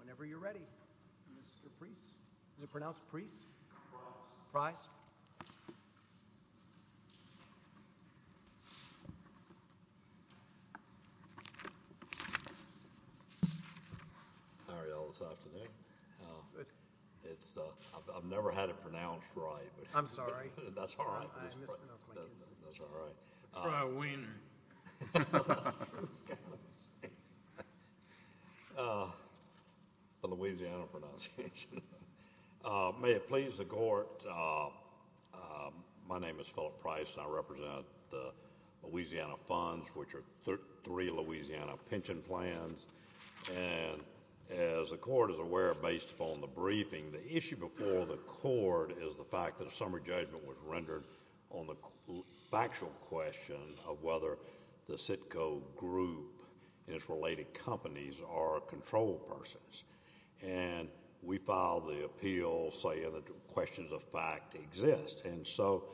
Whenever you're ready. Mr. Preece. Is it pronounced Preece? Pryce. Pryce. How are you all this afternoon? Good. I've never had it pronounced right. I'm sorry. That's all right. I mispronounced my name. That's all right. Pry-ween. The Louisiana pronunciation. May it please the court, my name is Philip Pryce. I represent the Louisiana funds, which are three Louisiana pension plans. And as the court is aware, based upon the briefing, the issue before the court is the fact that a summary judgment was rendered on the factual question of whether the Citco Group and its related companies are controlled persons. And we filed the appeal saying that questions of fact exist. And so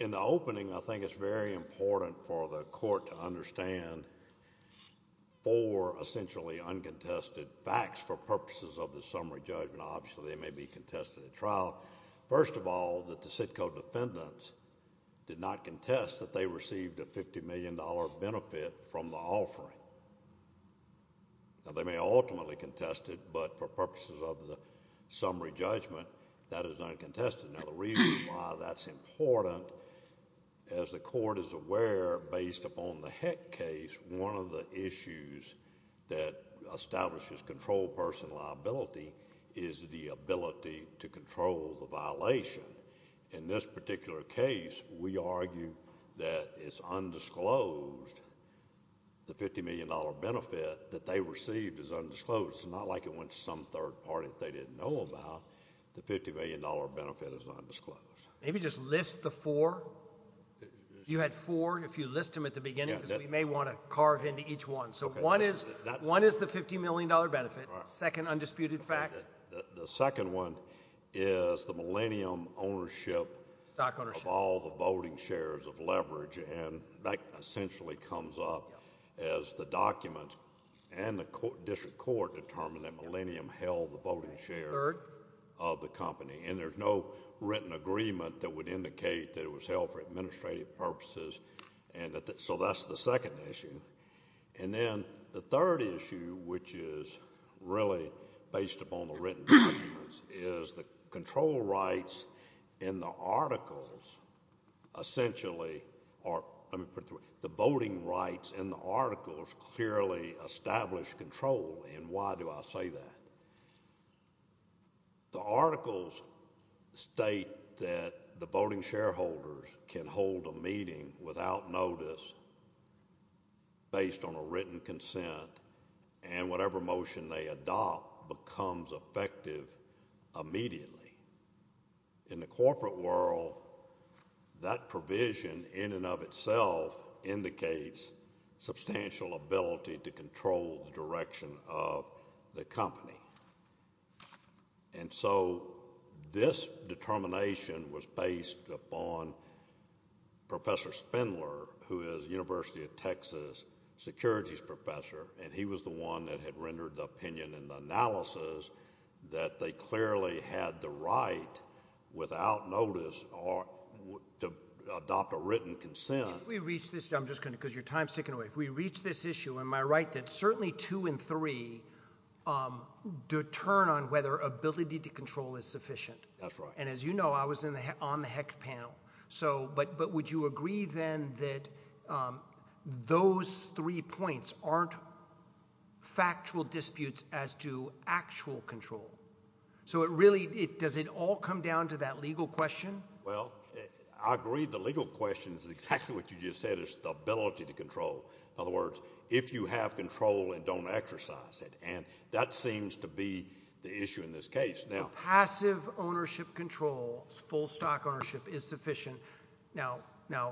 in the opening, I think it's very important for the court to understand four essentially uncontested facts for purposes of the summary judgment. Obviously, they may be contested at trial. First of all, that the Citco defendants did not contest that they received a $50 million benefit from the offering. Now, they may ultimately contest it, but for purposes of the summary judgment, that is uncontested. Now, the reason why that's important, as the court is aware, based upon the Heck case, one of the issues that establishes controlled person liability is the ability to control the violation. In this particular case, we argue that it's undisclosed. The $50 million benefit that they received is undisclosed. It's not like it went to some third party that they didn't know about. The $50 million benefit is undisclosed. Maybe just list the four. You had four. If you list them at the beginning, because we may want to carve into each one. So one is the $50 million benefit. Second undisputed fact? The second one is the Millennium ownership of all the voting shares of Leverage. And that essentially comes up as the documents and the district court determine that Millennium held the voting shares of the company. And there's no written agreement that would indicate that it was held for administrative purposes. So that's the second issue. And then the third issue, which is really based upon the written documents, is the control rights in the articles essentially are the voting rights in the articles clearly establish control. And why do I say that? The articles state that the voting shareholders can hold a meeting without notice based on a written consent and whatever motion they adopt becomes effective immediately. In the corporate world, that provision in and of itself indicates substantial ability to control the direction of the company. And so this determination was based upon Professor Spindler, who is a University of Texas securities professor. And he was the one that had rendered the opinion and the analysis that they clearly had the right without notice to adopt a written consent. I'm just going to – because your time is ticking away. If we reach this issue, am I right that certainly two and three determine whether ability to control is sufficient? That's right. And as you know, I was on the HEC panel. But would you agree then that those three points aren't factual disputes as to actual control? So it really – does it all come down to that legal question? Well, I agree the legal question is exactly what you just said, is the ability to control. In other words, if you have control and don't exercise it. And that seems to be the issue in this case. So passive ownership control, full stock ownership, is sufficient. Now,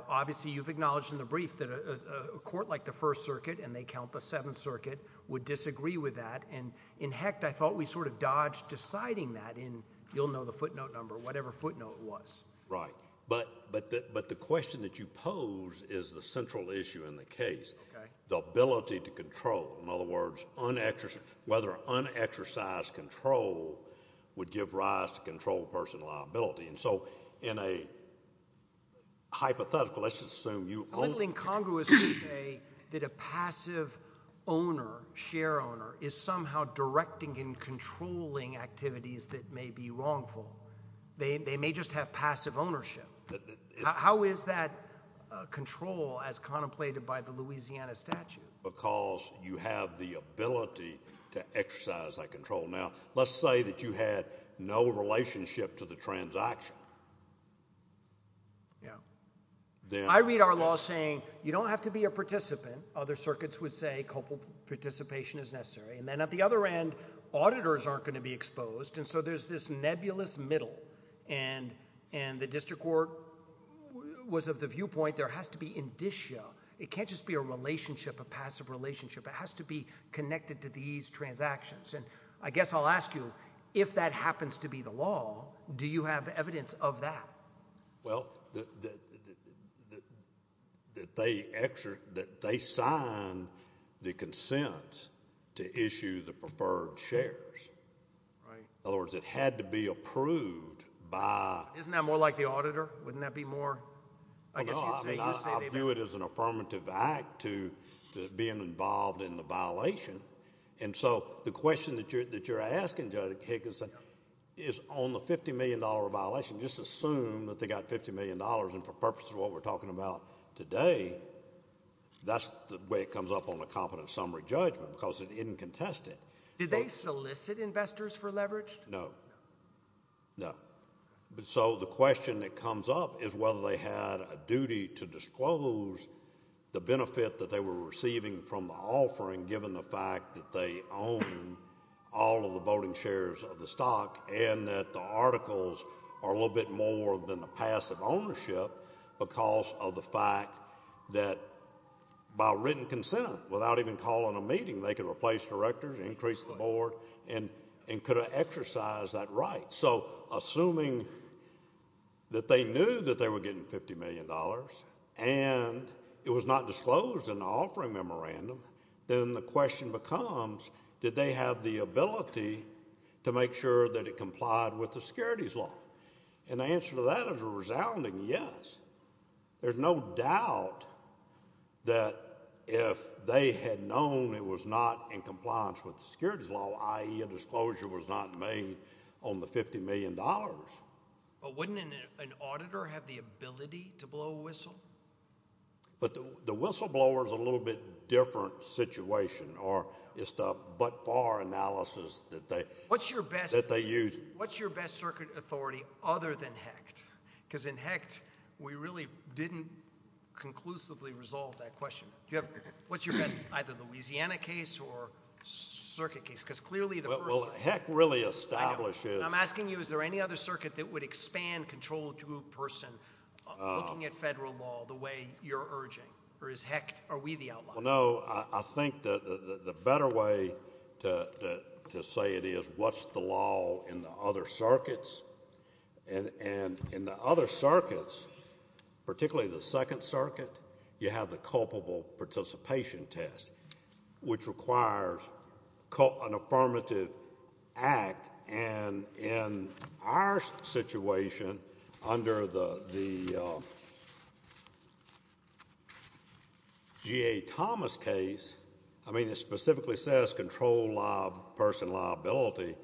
obviously, you've acknowledged in the brief that a court like the First Circuit, and they count the Seventh Circuit, would disagree with that. And in HECT, I thought we sort of dodged deciding that in – you'll know the footnote number, whatever footnote it was. Right. But the question that you pose is the central issue in the case, the ability to control. In other words, whether unexercised control would give rise to controlled personal liability. And so in a hypothetical, let's assume you – It's a little incongruous to say that a passive owner, share owner, is somehow directing and controlling activities that may be wrongful. They may just have passive ownership. How is that control as contemplated by the Louisiana statute? Because you have the ability to exercise that control. Now, let's say that you had no relationship to the transaction. Yeah. I read our law saying you don't have to be a participant. Other circuits would say copal participation is necessary. And then at the other end, auditors aren't going to be exposed. And so there's this nebulous middle. And the district court was of the viewpoint there has to be indicio. It can't just be a relationship, a passive relationship. It has to be connected to these transactions. And I guess I'll ask you, if that happens to be the law, do you have evidence of that? Well, they signed the consent to issue the preferred shares. In other words, it had to be approved by – Isn't that more like the auditor? Wouldn't that be more – No, I view it as an affirmative act to being involved in the violation. And so the question that you're asking, Judge Higginson, is on the $50 million violation, just assume that they got $50 million. And for purposes of what we're talking about today, that's the way it comes up on a competent summary judgment because it didn't contest it. Did they solicit investors for leverage? No. No. But so the question that comes up is whether they had a duty to disclose the benefit that they were receiving from the offering given the fact that they own all of the voting shares of the stock and that the articles are a little bit more than the passive ownership because of the fact that by written consent, without even calling a meeting, they could replace directors, increase the board, and could have exercised that right. So assuming that they knew that they were getting $50 million and it was not disclosed in the offering memorandum, then the question becomes did they have the ability to make sure that it complied with the securities law? And the answer to that is a resounding yes. There's no doubt that if they had known it was not in compliance with the securities law, i.e. a disclosure was not made on the $50 million. But wouldn't an auditor have the ability to blow a whistle? But the whistleblower is a little bit different situation or it's the but-for analysis that they use. What's your best circuit authority other than HECT? Because in HECT we really didn't conclusively resolve that question. What's your best, either Louisiana case or circuit case? Well, HECT really establishes. I'm asking you is there any other circuit that would expand control to a person looking at federal law the way you're urging? Or is HECT, are we the outlier? No, I think the better way to say it is what's the law in the other circuits? And in the other circuits, particularly the Second Circuit, you have the culpable participation test, which requires an affirmative act. And in our situation under the G.A. Thomas case, I mean it specifically says control person liability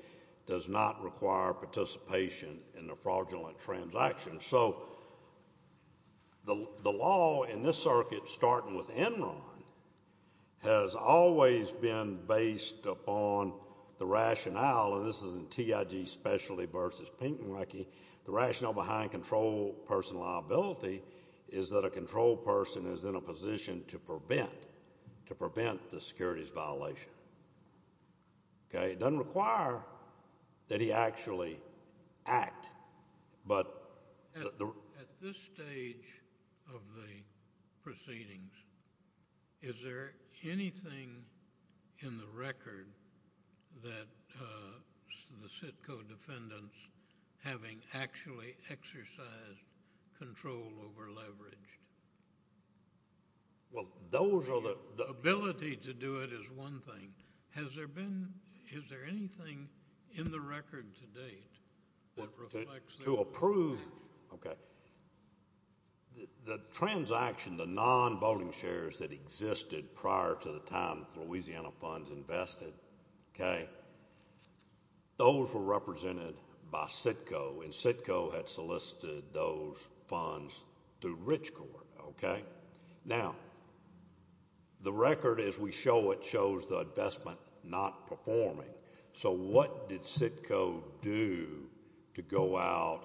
does not require participation in a fraudulent transaction. So the law in this circuit, starting with Enron, has always been based upon the rationale. And this is in TIG Specialty v. Pinkney. The rationale behind control person liability is that a control person is in a position to prevent the securities violation. It doesn't require that he actually act. At this stage of the proceedings, is there anything in the record that the CITCO defendants having actually exercised control over leveraged? Ability to do it is one thing. Has there been, is there anything in the record to date that reflects that? To approve, okay. The transaction, the non-voting shares that existed prior to the time the Louisiana funds invested, okay, those were represented by CITCO. And CITCO had solicited those funds through Rich Court, okay. Now, the record as we show it shows the investment not performing. So what did CITCO do to go out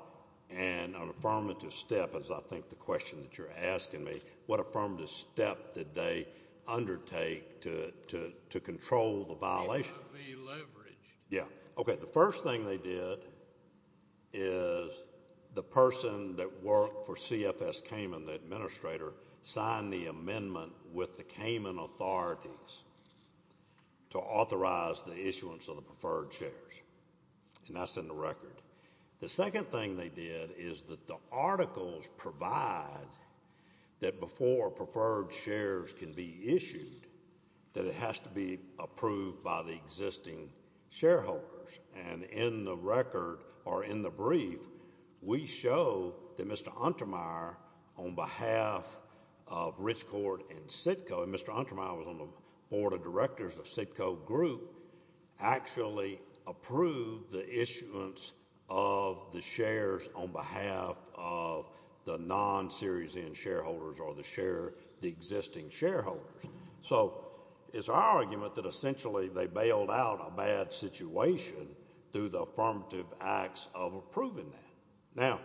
and on an affirmative step, as I think the question that you're asking me, what affirmative step did they undertake to control the violation? To be leveraged. Yeah, okay. The first thing they did is the person that worked for CFS Cayman, the administrator, signed the amendment with the Cayman authorities to authorize the issuance of the preferred shares. And that's in the record. The second thing they did is that the articles provide that before preferred shares can be issued, that it has to be approved by the existing shareholders. And in the record, or in the brief, we show that Mr. Untermyer, on behalf of Rich Court and CITCO, and Mr. Untermyer was on the board of directors of CITCO Group, actually approved the issuance of the shares on behalf of the non-Series N shareholders or the existing shareholders. So it's our argument that essentially they bailed out a bad situation through the affirmative acts of approving that. Now,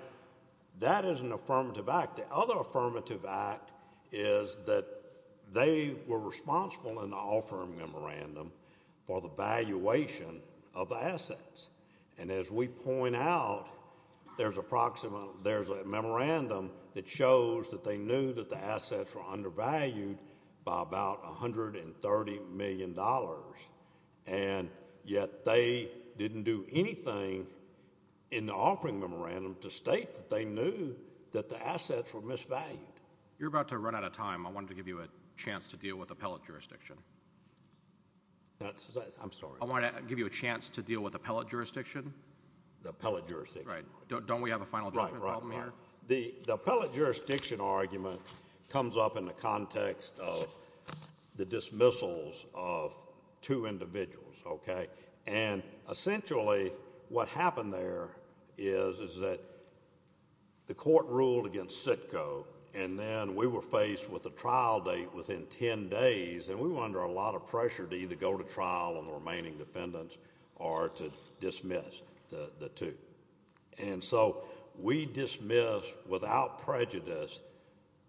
that is an affirmative act. The other affirmative act is that they were responsible in the offering memorandum for the valuation of the assets. And as we point out, there's a memorandum that shows that they knew that the assets were undervalued by about $130 million. And yet they didn't do anything in the offering memorandum to state that they knew that the assets were misvalued. You're about to run out of time. I wanted to give you a chance to deal with appellate jurisdiction. I'm sorry. I wanted to give you a chance to deal with appellate jurisdiction. The appellate jurisdiction. Right. Don't we have a final judgment problem here? Right, right, right. The appellate jurisdiction argument comes up in the context of the dismissals of two individuals, okay? And essentially what happened there is that the court ruled against Sitko, and then we were faced with a trial date within 10 days, and we were under a lot of pressure to either go to trial on the remaining defendants or to dismiss the two. And so we dismissed without prejudice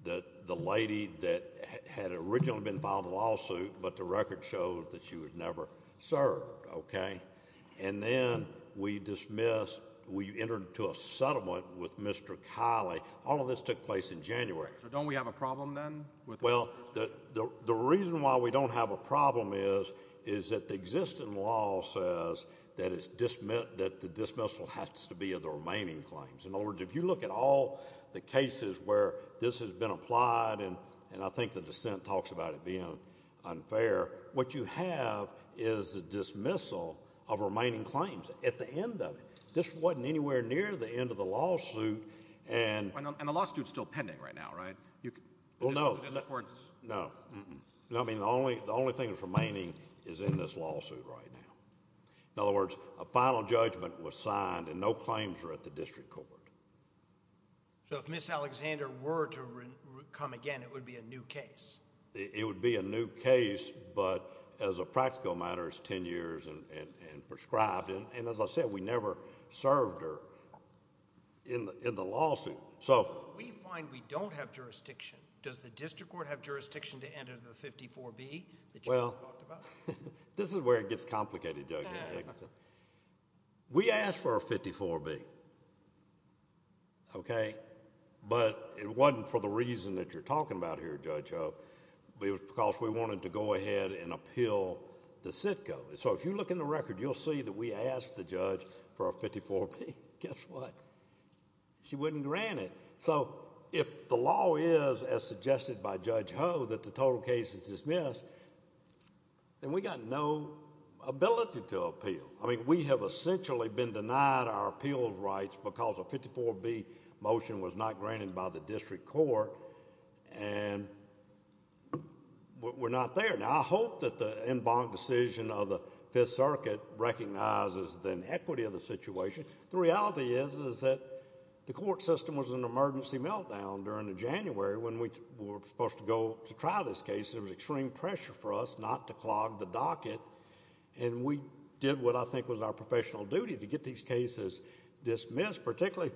that the lady that had originally been filed a lawsuit, but the record shows that she was never served, okay? And then we dismissed, we entered into a settlement with Mr. Kiley. All of this took place in January. So don't we have a problem then? Well, the reason why we don't have a problem is that the existing law says that the dismissal has to be of the remaining claims. In other words, if you look at all the cases where this has been applied, and I think the dissent talks about it being unfair, what you have is a dismissal of remaining claims at the end of it. This wasn't anywhere near the end of the lawsuit. And the lawsuit is still pending right now, right? Well, no. No. I mean, the only thing that's remaining is in this lawsuit right now. In other words, a final judgment was signed, and no claims were at the district court. So if Ms. Alexander were to come again, it would be a new case? It would be a new case, but as a practical matter, it's 10 years and prescribed. And as I said, we never served her in the lawsuit. So we find we don't have jurisdiction. Does the district court have jurisdiction to enter the 54B that you just talked about? Well, this is where it gets complicated, Judge Egginton. We asked for a 54B, okay? But it wasn't for the reason that you're talking about here, Judge Hope. It was because we wanted to go ahead and appeal the Sitco. So if you look in the record, you'll see that we asked the judge for a 54B. Guess what? She wouldn't grant it. So if the law is, as suggested by Judge Hope, that the total case is dismissed, then we've got no ability to appeal. I mean, we have essentially been denied our appeals rights because a 54B motion was not granted by the district court, and we're not there. Now, I hope that the en banc decision of the Fifth Circuit recognizes the inequity of the situation. The reality is that the court system was in an emergency meltdown during the January when we were supposed to go to try this case. There was extreme pressure for us not to clog the docket, and we did what I think was our professional duty to get these cases dismissed, particularly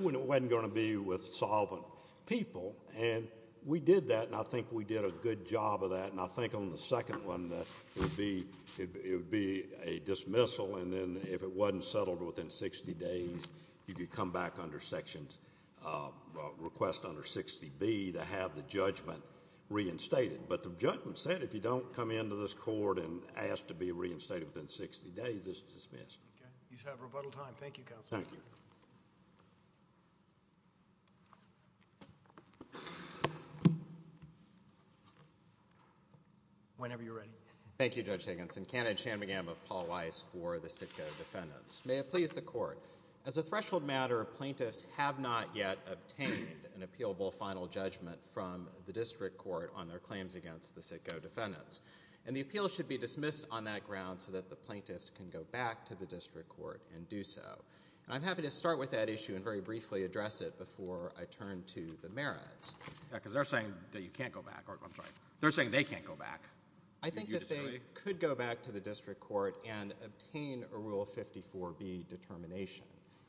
when it wasn't going to be with solvent people. And we did that, and I think we did a good job of that. And I think on the second one, it would be a dismissal, and then if it wasn't settled within 60 days, you could come back under section request under 60B to have the judgment reinstated. But the judgment said if you don't come into this court and ask to be reinstated within 60 days, it's dismissed. Okay. You have rebuttal time. Thank you, Counsel. Thank you. Whenever you're ready. Thank you, Judge Higginson. Kenneth Shanmugam of Paul Weiss for the Sitko defendants. May it please the Court. As a threshold matter, plaintiffs have not yet obtained an appealable final judgment from the district court on their claims against the Sitko defendants, and the appeal should be dismissed on that ground so that the plaintiffs can go back to the district court and do so. And I'm happy to start with that issue and very briefly address it before I turn to the merits. Because they're saying that you can't go back. I'm sorry. They're saying they can't go back. I think that they could go back to the district court and obtain a Rule 54B determination.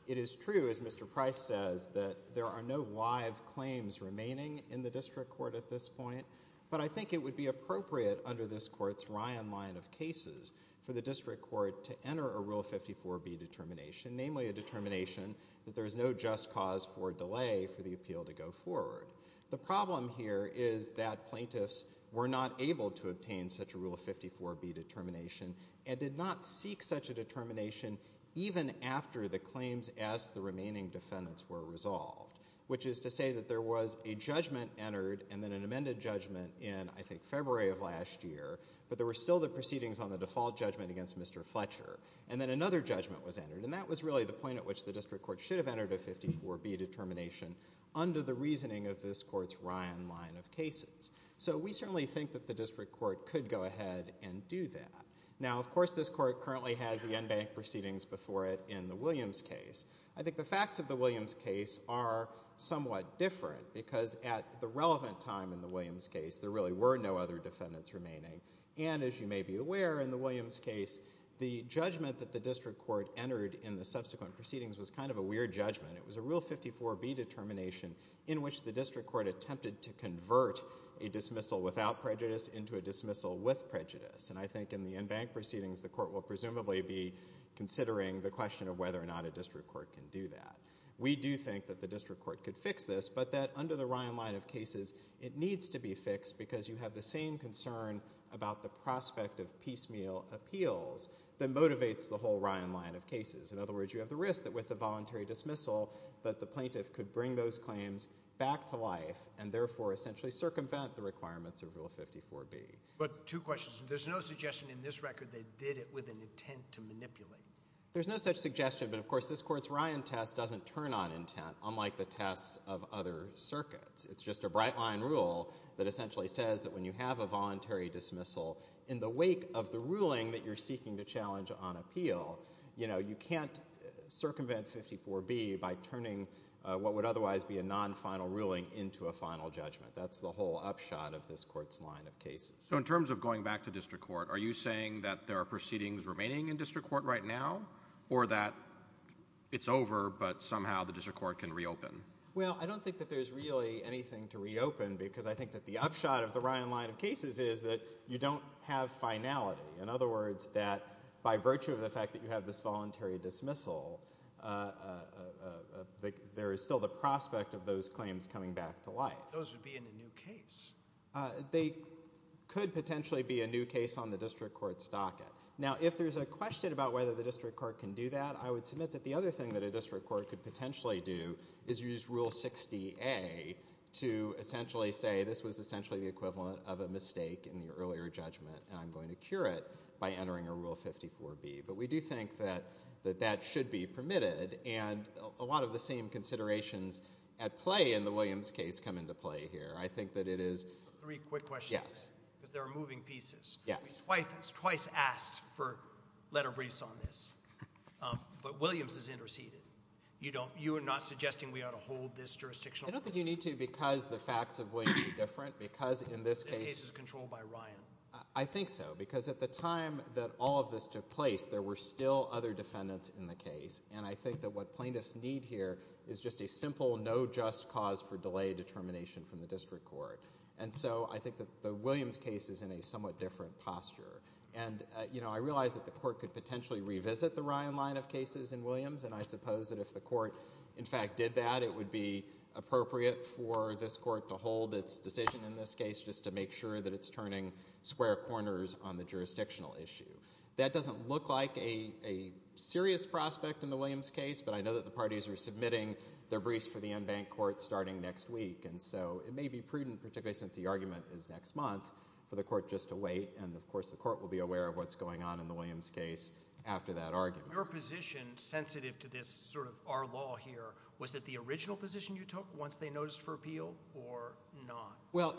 It is true, as Mr. Price says, that there are no live claims remaining in the district court at this point, but I think it would be appropriate under this court's Ryan line of cases for the district court to enter a Rule 54B determination, namely a determination that there is no just cause for delay for the appeal to go forward. The problem here is that plaintiffs were not able to obtain such a Rule 54B determination and did not seek such a determination even after the claims as the remaining defendants were resolved, which is to say that there was a judgment entered and then an amended judgment in, I think, February of last year, but there were still the proceedings on the default judgment against Mr. Fletcher. And then another judgment was entered, and that was really the point at which the district court should have entered a 54B determination under the reasoning of this court's Ryan line of cases. So we certainly think that the district court could go ahead and do that. Now, of course, this court currently has the en banc proceedings before it in the Williams case. I think the facts of the Williams case are somewhat different because at the relevant time in the Williams case there really were no other defendants remaining. And as you may be aware, in the Williams case, the judgment that the district court entered in the subsequent proceedings was kind of a weird judgment. It was a Rule 54B determination in which the district court attempted to convert a dismissal without prejudice into a dismissal with prejudice. And I think in the en banc proceedings the court will presumably be considering the question of whether or not a district court can do that. We do think that the district court could fix this, but that under the Ryan line of cases it needs to be fixed because you have the same concern about the prospect of piecemeal appeals that motivates the whole Ryan line of cases. In other words, you have the risk that with the voluntary dismissal that the plaintiff could bring those claims back to life and therefore essentially circumvent the requirements of Rule 54B. But two questions. There's no suggestion in this record they did it with an intent to manipulate. There's no such suggestion, but of course this court's Ryan test doesn't turn on intent, unlike the tests of other circuits. It's just a bright line rule that essentially says that when you have a voluntary dismissal in the wake of the ruling that you're seeking to challenge on appeal, you can't circumvent 54B by turning what would otherwise be a non-final ruling into a final judgment. That's the whole upshot of this court's line of cases. So in terms of going back to district court, are you saying that there are proceedings remaining in district court right now or that it's over but somehow the district court can reopen? Well, I don't think that there's really anything to reopen because I think that the upshot of the Ryan line of cases is that you don't have finality. In other words, that by virtue of the fact that you have this voluntary dismissal, there is still the prospect of those claims coming back to life. Those would be in a new case. They could potentially be a new case on the district court's docket. Now, if there's a question about whether the district court can do that, I would submit that the other thing that a district court could potentially do is use Rule 60A to essentially say this was essentially the equivalent of a mistake in the earlier judgment and I'm going to cure it by entering a Rule 54B. But we do think that that should be permitted, and a lot of the same considerations at play in the Williams case come into play here. I think that it is – Three quick questions. Yes. Because there are moving pieces. Yes. Twice asked for letter briefs on this, but Williams has interceded. You are not suggesting we ought to hold this jurisdictional? I don't think you need to because the facts of Williams are different because in this case – This case is controlled by Ryan. I think so because at the time that all of this took place, there were still other defendants in the case, and I think that what plaintiffs need here is just a simple no just cause for delay determination from the district court. And so I think that the Williams case is in a somewhat different posture. And I realize that the court could potentially revisit the Ryan line of cases in Williams, and I suppose that if the court, in fact, did that, it would be appropriate for this court to hold its decision in this case just to make sure that it's turning square corners on the jurisdictional issue. That doesn't look like a serious prospect in the Williams case, but I know that the parties are submitting their briefs for the en banc court starting next week, and so it may be prudent, particularly since the argument is next month, for the court just to wait, and, of course, the court will be aware of what's going on in the Williams case after that argument. So your position sensitive to this sort of our law here, was it the original position you took once they noticed for appeal or not? Well,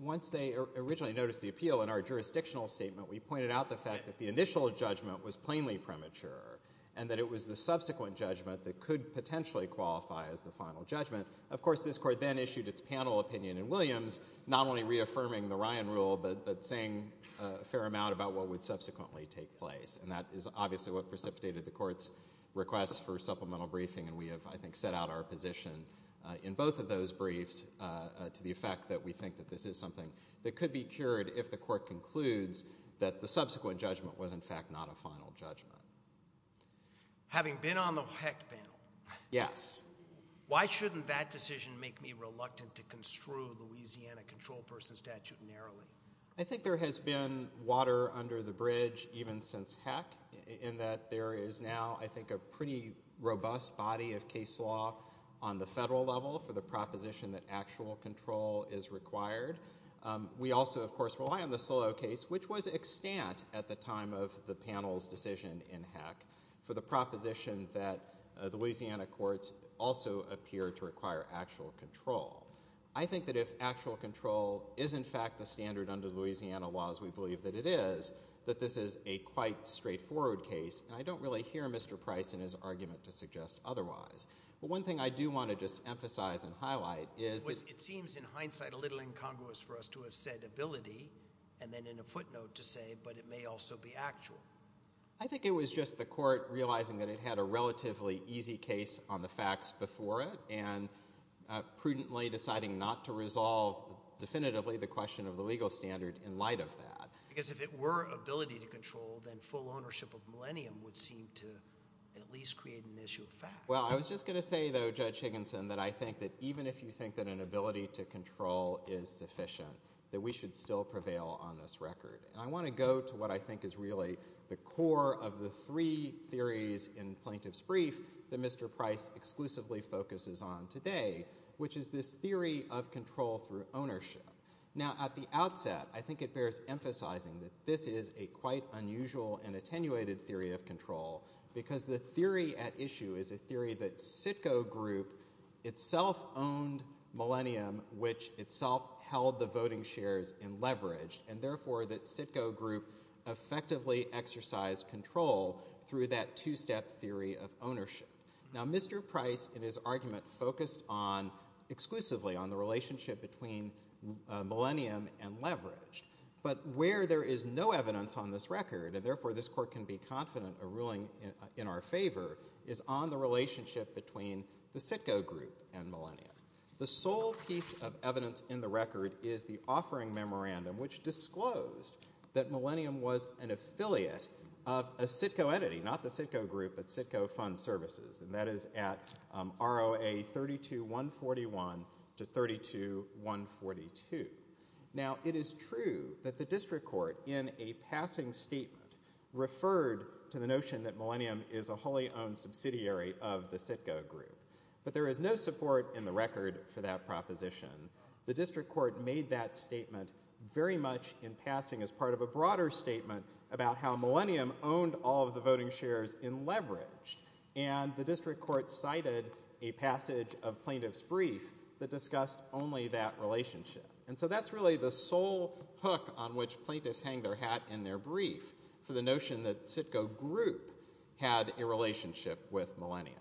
once they originally noticed the appeal in our jurisdictional statement, we pointed out the fact that the initial judgment was plainly premature and that it was the subsequent judgment that could potentially qualify as the final judgment. Of course, this court then issued its panel opinion in Williams, not only reaffirming the Ryan rule but saying a fair amount about what would subsequently take place, and that is obviously what precipitated the court's request for supplemental briefing, and we have, I think, set out our position in both of those briefs to the effect that we think that this is something that could be cured if the court concludes that the subsequent judgment was, in fact, not a final judgment. Having been on the HEC panel, why shouldn't that decision make me reluctant to construe the Louisiana control person statute narrowly? I think there has been water under the bridge even since HEC in that there is now, I think, a pretty robust body of case law on the federal level for the proposition that actual control is required. We also, of course, rely on the Solow case, which was extant at the time of the panel's decision in HEC for the proposition that the Louisiana courts also appear to require actual control. I think that if actual control is, in fact, the standard under the Louisiana laws, we believe that it is, that this is a quite straightforward case, and I don't really hear Mr. Price in his argument to suggest otherwise. But one thing I do want to just emphasize and highlight is— It seems, in hindsight, a little incongruous for us to have said ability and then in a footnote to say, but it may also be actual. I think it was just the court realizing that it had a relatively easy case on the facts before it and prudently deciding not to resolve definitively the question of the legal standard in light of that. Because if it were ability to control, then full ownership of Millennium would seem to at least create an issue of fact. Well, I was just going to say, though, Judge Higginson, that I think that even if you think that an ability to control is sufficient, that we should still prevail on this record. I want to go to what I think is really the core of the three theories in Plaintiff's Brief that Mr. Price exclusively focuses on today, which is this theory of control through ownership. Now, at the outset, I think it bears emphasizing that this is a quite unusual and attenuated theory of control because the theory at issue is a theory that Sitko Group itself owned Millennium, which itself held the voting shares and leveraged, and therefore that Sitko Group effectively exercised control through that two-step theory of ownership. Now, Mr. Price in his argument focused exclusively on the relationship between Millennium and leveraged. But where there is no evidence on this record, and therefore this court can be confident of ruling in our favor, is on the relationship between the Sitko Group and Millennium. The sole piece of evidence in the record is the offering memorandum, which disclosed that Millennium was an affiliate of a Sitko entity, not the Sitko Group, but Sitko Fund Services, and that is at ROA 32141 to 32142. Now, it is true that the district court in a passing statement referred to the notion that Millennium is a wholly owned subsidiary of the Sitko Group. But there is no support in the record for that proposition. The district court made that statement very much in passing as part of a broader statement about how Millennium owned all of the voting shares and leveraged, and the district court cited a passage of plaintiff's brief that discussed only that relationship. And so that's really the sole hook on which plaintiffs hang their hat in their brief for the notion that Sitko Group had a relationship with Millennium.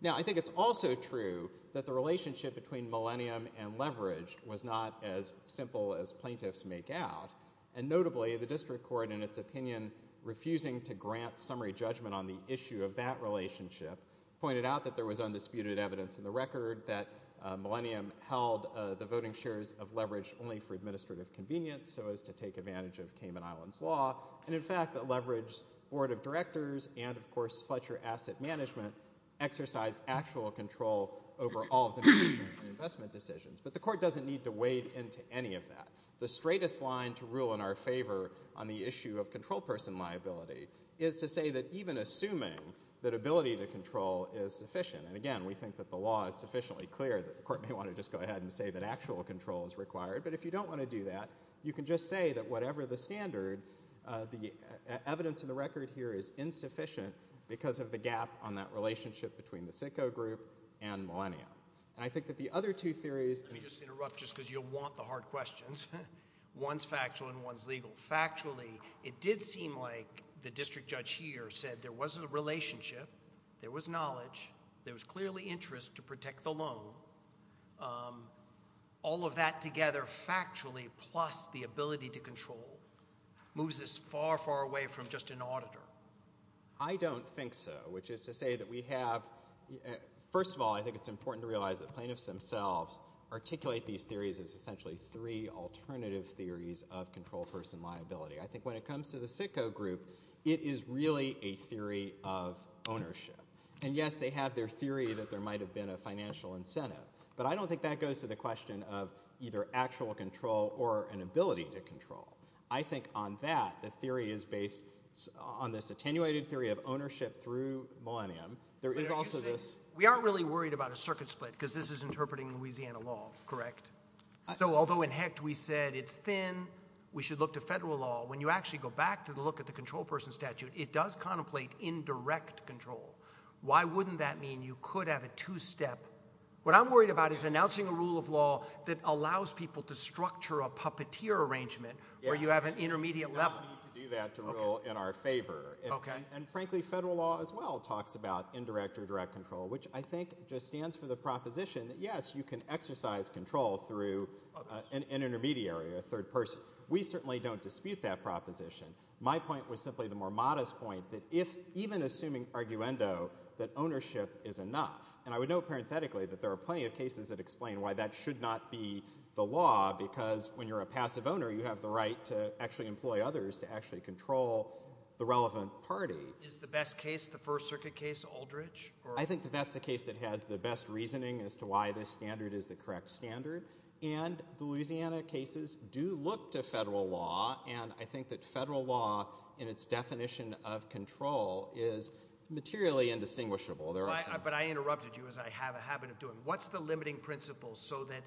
Now, I think it's also true that the relationship between Millennium and Leverage was not as simple as plaintiffs make out. And notably, the district court, in its opinion, refusing to grant summary judgment on the issue of that relationship, pointed out that there was undisputed evidence in the record that Millennium held the voting shares of Leverage only for administrative convenience so as to take advantage of Cayman Islands law, and, in fact, that Leverage's board of directors and, of course, Fletcher Asset Management exercised actual control over all of the payment and investment decisions. But the court doesn't need to wade into any of that. The straightest line to rule in our favor on the issue of control person liability is to say that even assuming that ability to control is sufficient, and, again, we think that the law is sufficiently clear that the court may want to just go ahead and say that actual control is required, but if you don't want to do that, you can just say that whatever the standard, the evidence in the record here is insufficient because of the gap on that relationship between the SITCO group and Millennium. And I think that the other two theories— Let me just interrupt just because you'll want the hard questions. One's factual and one's legal. Factually, it did seem like the district judge here said there was a relationship, there was knowledge, there was clearly interest to protect the loan. All of that together factually plus the ability to control moves us far, far away from just an auditor. I don't think so, which is to say that we have— First of all, I think it's important to realize that plaintiffs themselves articulate these theories as essentially three alternative theories of control person liability. I think when it comes to the SITCO group, it is really a theory of ownership. And, yes, they have their theory that there might have been a financial incentive, but I don't think that goes to the question of either actual control or an ability to control. I think on that, the theory is based on this attenuated theory of ownership through Millennium. There is also this— We aren't really worried about a circuit split because this is interpreting Louisiana law, correct? So although in HECT we said it's thin, we should look to federal law, when you actually go back to look at the control person statute, it does contemplate indirect control. Why wouldn't that mean you could have a two-step— What I'm worried about is announcing a rule of law that allows people to structure a puppeteer arrangement where you have an intermediate level. You don't need to do that to rule in our favor. And, frankly, federal law as well talks about indirect or direct control, which I think just stands for the proposition that, yes, you can exercise control through an intermediary, a third person. We certainly don't dispute that proposition. My point was simply the more modest point that even assuming arguendo that ownership is enough, and I would note parenthetically that there are plenty of cases that explain why that should not be the law because when you're a passive owner, you have the right to actually employ others to actually control the relevant party. Is the best case the First Circuit case, Aldridge? I think that that's the case that has the best reasoning as to why this standard is the correct standard. And the Louisiana cases do look to federal law, and I think that federal law in its definition of control is materially indistinguishable. But I interrupted you as I have a habit of doing. What's the limiting principle so that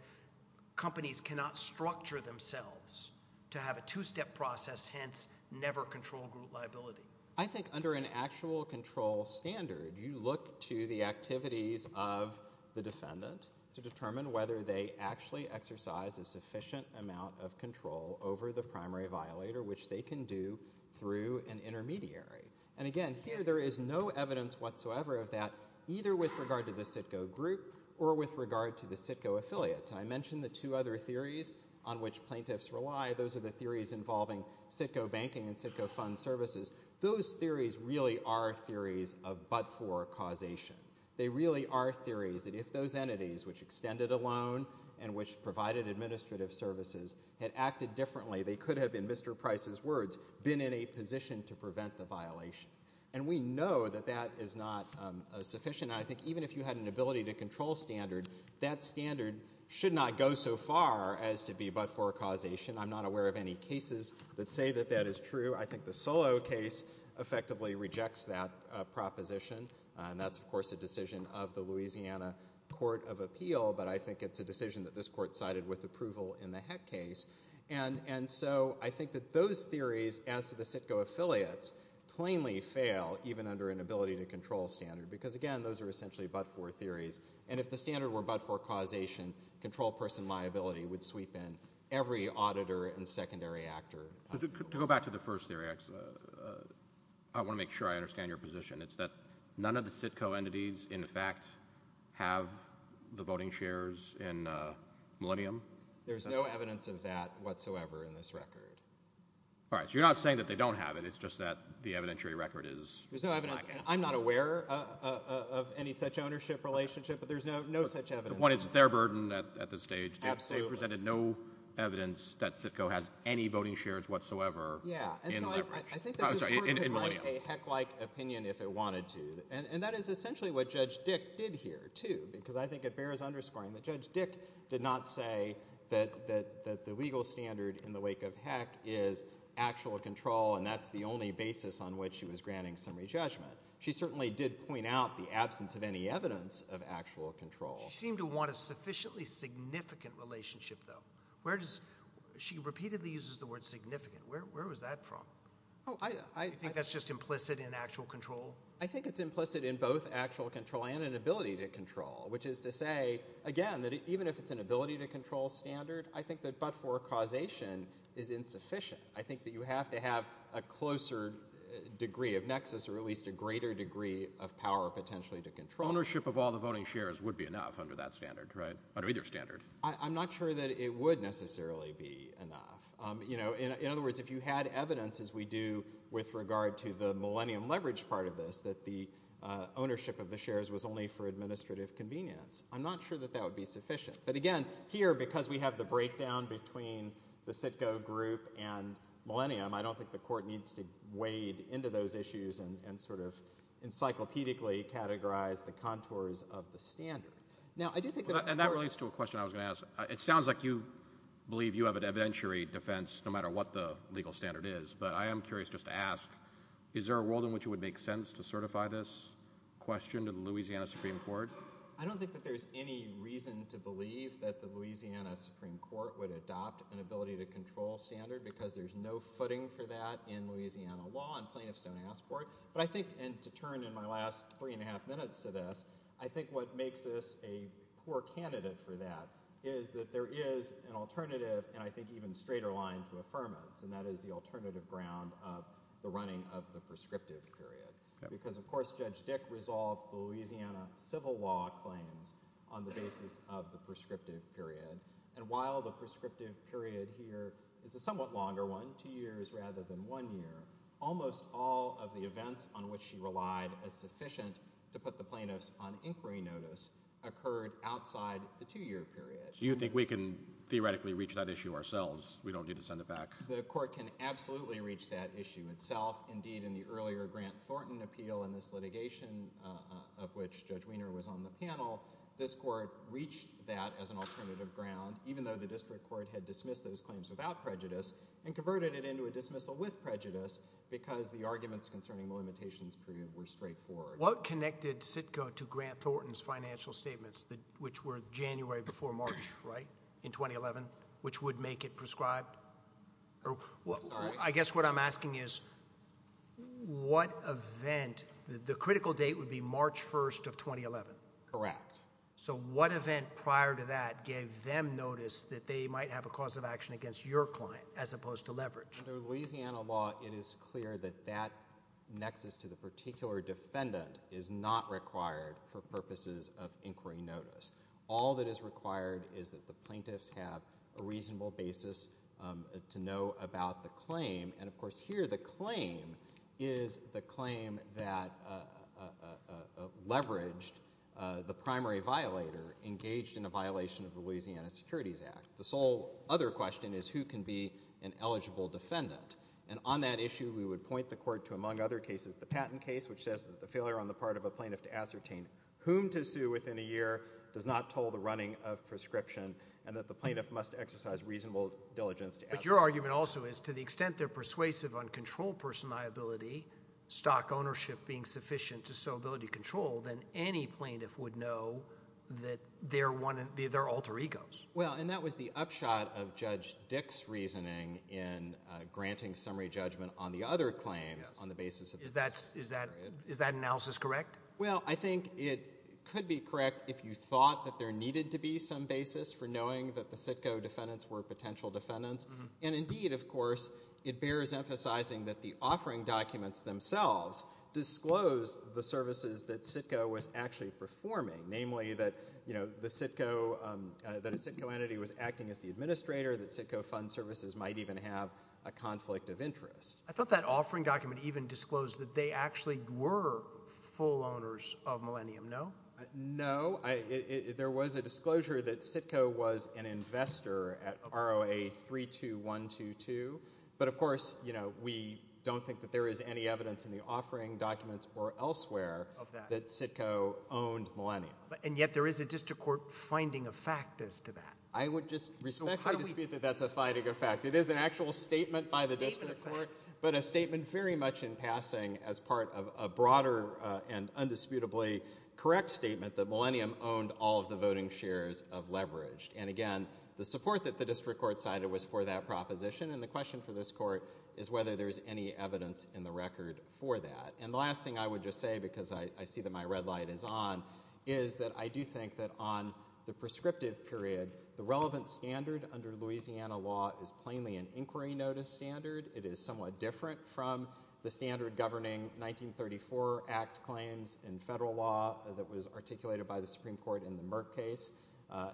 companies cannot structure themselves to have a two-step process, hence never control group liability? I think under an actual control standard, you look to the activities of the defendant to determine whether they actually exercise a sufficient amount of control over the primary violator, which they can do through an intermediary. And again, here there is no evidence whatsoever of that either with regard to the CITGO group or with regard to the CITGO affiliates. And I mentioned the two other theories on which plaintiffs rely. Those are the theories involving CITGO banking and CITGO fund services. Those theories really are theories of but-for causation. They really are theories that if those entities which extended a loan and which provided administrative services had acted differently, they could have, in Mr. Price's words, been in a position to prevent the violation. And we know that that is not sufficient. And I think even if you had an ability to control standard, that standard should not go so far as to be but-for causation. I'm not aware of any cases that say that that is true. I think the Solow case effectively rejects that proposition, and that's, of course, a decision of the Louisiana Court of Appeal, but I think it's a decision that this court cited with approval in the Heck case. And so I think that those theories, as to the CITGO affiliates, plainly fail even under an ability-to-control standard because, again, those are essentially but-for theories. And if the standard were but-for causation, control person liability would sweep in every auditor and secondary actor. To go back to the first theory, I want to make sure I understand your position. It's that none of the CITGO entities, in fact, have the voting shares in Millennium? There's no evidence of that whatsoever in this record. All right, so you're not saying that they don't have it. It's just that the evidentiary record is lacking. There's no evidence. I'm not aware of any such ownership relationship, but there's no such evidence. One, it's their burden at this stage. Absolutely. They've presented no evidence that CITGO has any voting shares whatsoever in Millennium. Yeah, and so I think that this court could make a Heck-like opinion if it wanted to, and that is essentially what Judge Dick did here, too, because I think it bears underscoring that Judge Dick did not say that the legal standard in the wake of Heck is actual control, and that's the only basis on which she was granting summary judgment. She certainly did point out the absence of any evidence of actual control. She seemed to want a sufficiently significant relationship, though. She repeatedly uses the word significant. Where was that from? Do you think that's just implicit in actual control? I think it's implicit in both actual control and an ability to control, which is to say, again, that even if it's an ability-to-control standard, I think that but-for causation is insufficient. I think that you have to have a closer degree of nexus or at least a greater degree of power potentially to control. Ownership of all the voting shares would be enough under that standard, right, under either standard? I'm not sure that it would necessarily be enough. In other words, if you had evidence, as we do with regard to the Millennium leverage part of this, that the ownership of the shares was only for administrative convenience, I'm not sure that that would be sufficient. But again, here, because we have the breakdown between the Citgo group and Millennium, I don't think the Court needs to wade into those issues and sort of encyclopedically categorize the contours of the standard. Now, I do think that... And that relates to a question I was going to ask. It sounds like you believe you have an evidentiary defense, no matter what the legal standard is, but I am curious just to ask, is there a world in which it would make sense to certify this question to the Louisiana Supreme Court? I don't think that there's any reason to believe that the Louisiana Supreme Court would adopt an ability-to-control standard because there's no footing for that in Louisiana law, and plaintiffs don't ask for it. But I think, and to turn in my last three and a half minutes to this, I think what makes this a poor candidate for that is that there is an alternative and I think even straighter line to affirmance, and that is the alternative ground of the running of the prescriptive period. Because, of course, Judge Dick resolved the Louisiana civil law claims on the basis of the prescriptive period, and while the prescriptive period here is a somewhat longer one, two years rather than one year, almost all of the events on which she relied as sufficient to put the plaintiffs on inquiry notice occurred outside the two-year period. Do you think we can theoretically reach that issue ourselves? We don't need to send it back. The court can absolutely reach that issue itself. Indeed, in the earlier Grant Thornton appeal in this litigation, of which Judge Weiner was on the panel, this court reached that as an alternative ground, even though the district court had dismissed those claims without prejudice and converted it into a dismissal with prejudice because the arguments concerning the limitations period were straightforward. What connected CITCO to Grant Thornton's financial statements, which were January before March, right, in 2011, which would make it prescribed? I guess what I'm asking is what event, the critical date would be March 1st of 2011. Correct. So what event prior to that gave them notice that they might have a cause of action against your client as opposed to leverage? Under Louisiana law, it is clear that that nexus to the particular defendant is not required for purposes of inquiry notice. All that is required is that the plaintiffs have a reasonable basis to know about the claim. Of course, here the claim is the claim that leveraged the primary violator engaged in a violation of the Louisiana Securities Act. The sole other question is who can be an eligible defendant. On that issue, we would point the court to, among other cases, the patent case, which says that the failure on the part of a plaintiff to ascertain whom to sue within a year does not toll the running of prescription and that the plaintiff must exercise reasonable diligence. But your argument also is to the extent they're persuasive on control person liability, stock ownership being sufficient to show ability to control, then any plaintiff would know that they're alter egos. Well, and that was the upshot of Judge Dick's reasoning in granting summary judgment on the other claims on the basis of this period. Is that analysis correct? Well, I think it could be correct if you thought that there needed to be some basis for knowing that the CITCO defendants were potential defendants. Indeed, of course, it bears emphasizing that the offering documents themselves disclose the services that CITCO was actually performing, namely that a CITCO entity was acting as the administrator, that CITCO fund services might even have a conflict of interest. I thought that offering document even disclosed that they actually were full owners of Millennium, no? No. There was a disclosure that CITCO was an investor at ROA 32122. But, of course, we don't think that there is any evidence in the offering documents or elsewhere that CITCO owned Millennium. And yet there is a district court finding of fact as to that. I would just respectfully dispute that that's a finding of fact. It is an actual statement by the district court, but a statement very much in passing as part of a broader and undisputably correct statement that Millennium owned all of the voting shares of Leveraged. And, again, the support that the district court cited was for that proposition, and the question for this court is whether there is any evidence in the record for that. And the last thing I would just say, because I see that my red light is on, is that I do think that on the prescriptive period, the relevant standard under Louisiana law is plainly an inquiry notice standard. It is somewhat different from the standard governing 1934 Act claims in federal law that was articulated by the Supreme Court in the Merck case,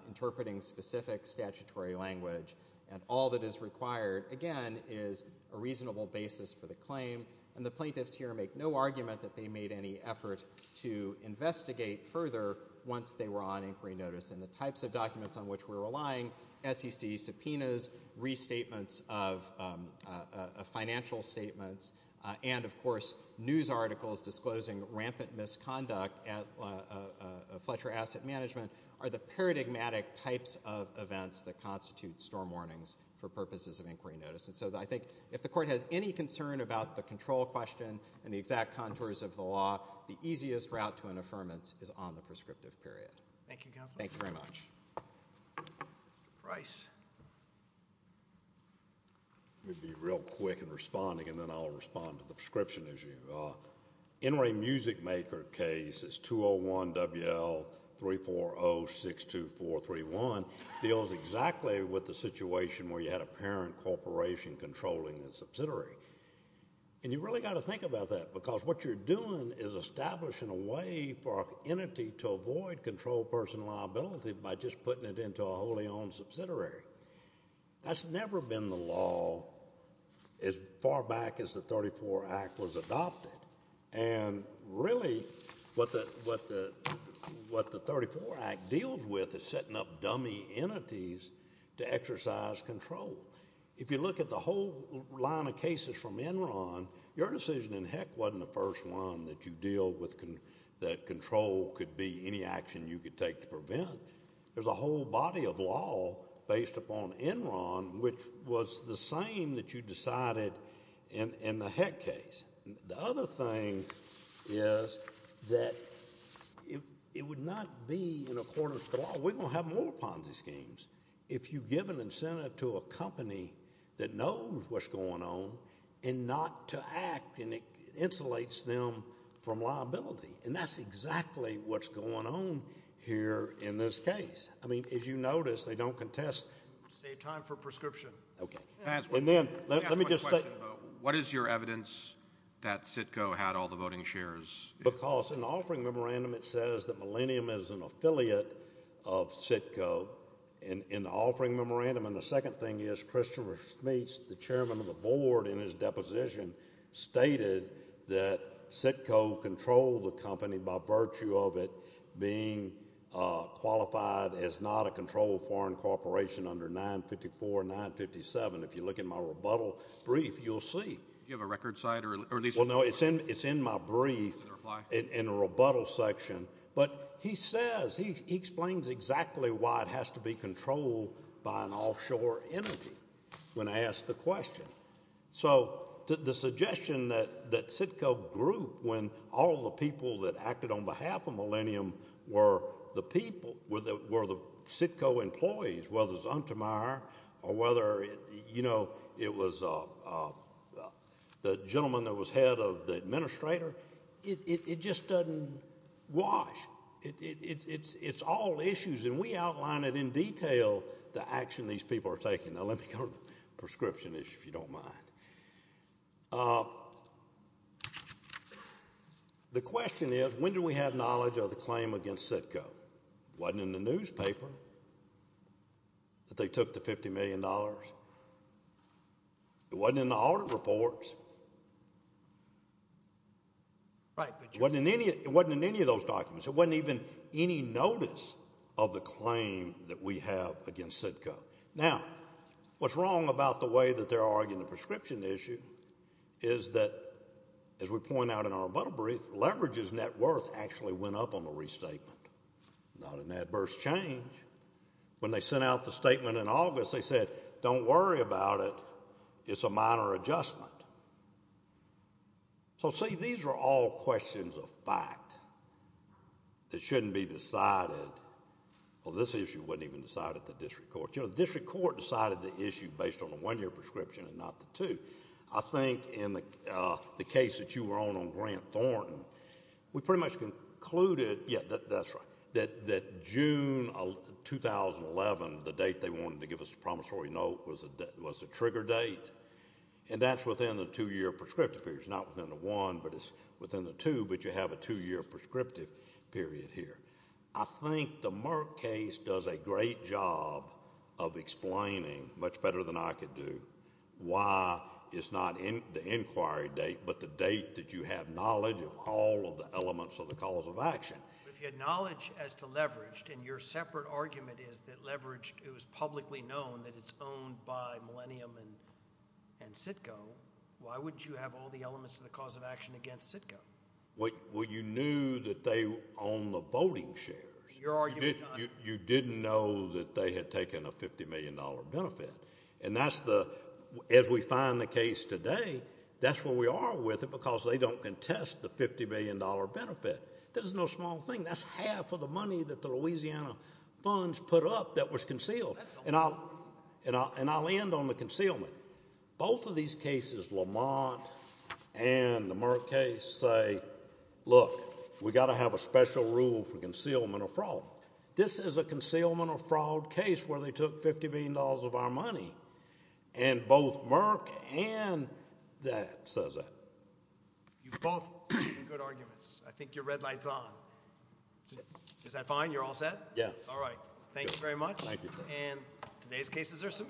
interpreting specific statutory language. And all that is required, again, is a reasonable basis for the claim. And the plaintiffs here make no argument that they made any effort to investigate further once they were on inquiry notice, and the types of documents on which we're relying, SEC subpoenas, restatements of financial statements, and, of course, news articles disclosing rampant misconduct at Fletcher Asset Management, are the paradigmatic types of events that constitute storm warnings for purposes of inquiry notice. And so I think if the court has any concern about the control question and the exact contours of the law, the easiest route to an affirmance is on the prescriptive period. Thank you, Counselor. Thank you very much. Mr. Price. Let me be real quick in responding, and then I'll respond to the prescription issue. NRA Music Maker case is 201-WL-340-62431. It deals exactly with the situation where you had a parent corporation controlling a subsidiary. And you've really got to think about that because what you're doing is establishing a way for an entity to avoid controlled personal liability by just putting it into a wholly owned subsidiary. That's never been the law as far back as the 34 Act was adopted. And really what the 34 Act deals with is setting up dummy entities to exercise control. If you look at the whole line of cases from Enron, your decision in Heck wasn't the first one that you deal with that control could be any action you could take to prevent. There's a whole body of law based upon Enron which was the same that you decided in the Heck case. The other thing is that it would not be in accordance with the law. We're going to have more Ponzi schemes. If you give an incentive to a company that knows what's going on and not to act, and it insulates them from liability. And that's exactly what's going on here in this case. I mean, as you notice, they don't contest. Save time for prescription. Okay. And then let me just say. What is your evidence that CITCO had all the voting shares? Because in the offering memorandum it says that Millennium is an affiliate of CITCO in the offering memorandum. And the second thing is Christopher Schmitz, the chairman of the board in his deposition, stated that CITCO controlled the company by virtue of it being qualified as not a controlled foreign corporation under 954 and 957. If you look at my rebuttal brief, you'll see. Well, no, it's in my brief in the rebuttal section. But he says, he explains exactly why it has to be controlled by an offshore entity when I ask the question. So the suggestion that CITCO grew when all the people that acted on behalf of Millennium were the people, were the CITCO employees, whether Zuntemeyer or whether, you know, it was the gentleman that was head of the administrator, it just doesn't wash. It's all issues. And we outline it in detail, the action these people are taking. Now, let me go to the prescription issue, if you don't mind. The question is, when do we have knowledge of the claim against CITCO? It wasn't in the newspaper that they took the $50 million. It wasn't in the audit reports. It wasn't in any of those documents. It wasn't even any notice of the claim that we have against CITCO. Now, what's wrong about the way that they're arguing the prescription issue is that, as we point out in our bundle brief, leverage's net worth actually went up on the restatement. Not an adverse change. When they sent out the statement in August, they said, don't worry about it. It's a minor adjustment. So, see, these are all questions of fact that shouldn't be decided. Well, this issue wasn't even decided at the district court. You know, the district court decided the issue based on the one-year prescription and not the two. I think in the case that you were on on Grant Thornton, we pretty much concluded, yeah, that's right, that June 2011, the date they wanted to give us the promissory note was the trigger date, and that's within the two-year prescriptive period. It's not within the one, but it's within the two, but you have a two-year prescriptive period here. I think the Merck case does a great job of explaining, much better than I could do, why it's not the inquiry date but the date that you have knowledge of all of the elements of the cause of action. If you had knowledge as to leveraged, and your separate argument is that leveraged, it was publicly known that it's owned by Millennium and CITCO, why would you have all the elements of the cause of action against CITCO? Well, you knew that they own the voting shares. You didn't know that they had taken a $50 million benefit, and that's the, as we find the case today, that's where we are with it because they don't contest the $50 million benefit. That is no small thing. That's half of the money that the Louisiana funds put up that was concealed, and I'll end on the concealment. Both of these cases, Lamont and the Merck case, say, look, we've got to have a special rule for concealment or fraud. This is a concealment or fraud case where they took $50 million of our money, and both Merck and that says that. You've both made good arguments. I think your red light's on. Is that fine? You're all set? Yes. All right. Thank you very much. Thank you. And today's cases are submitted.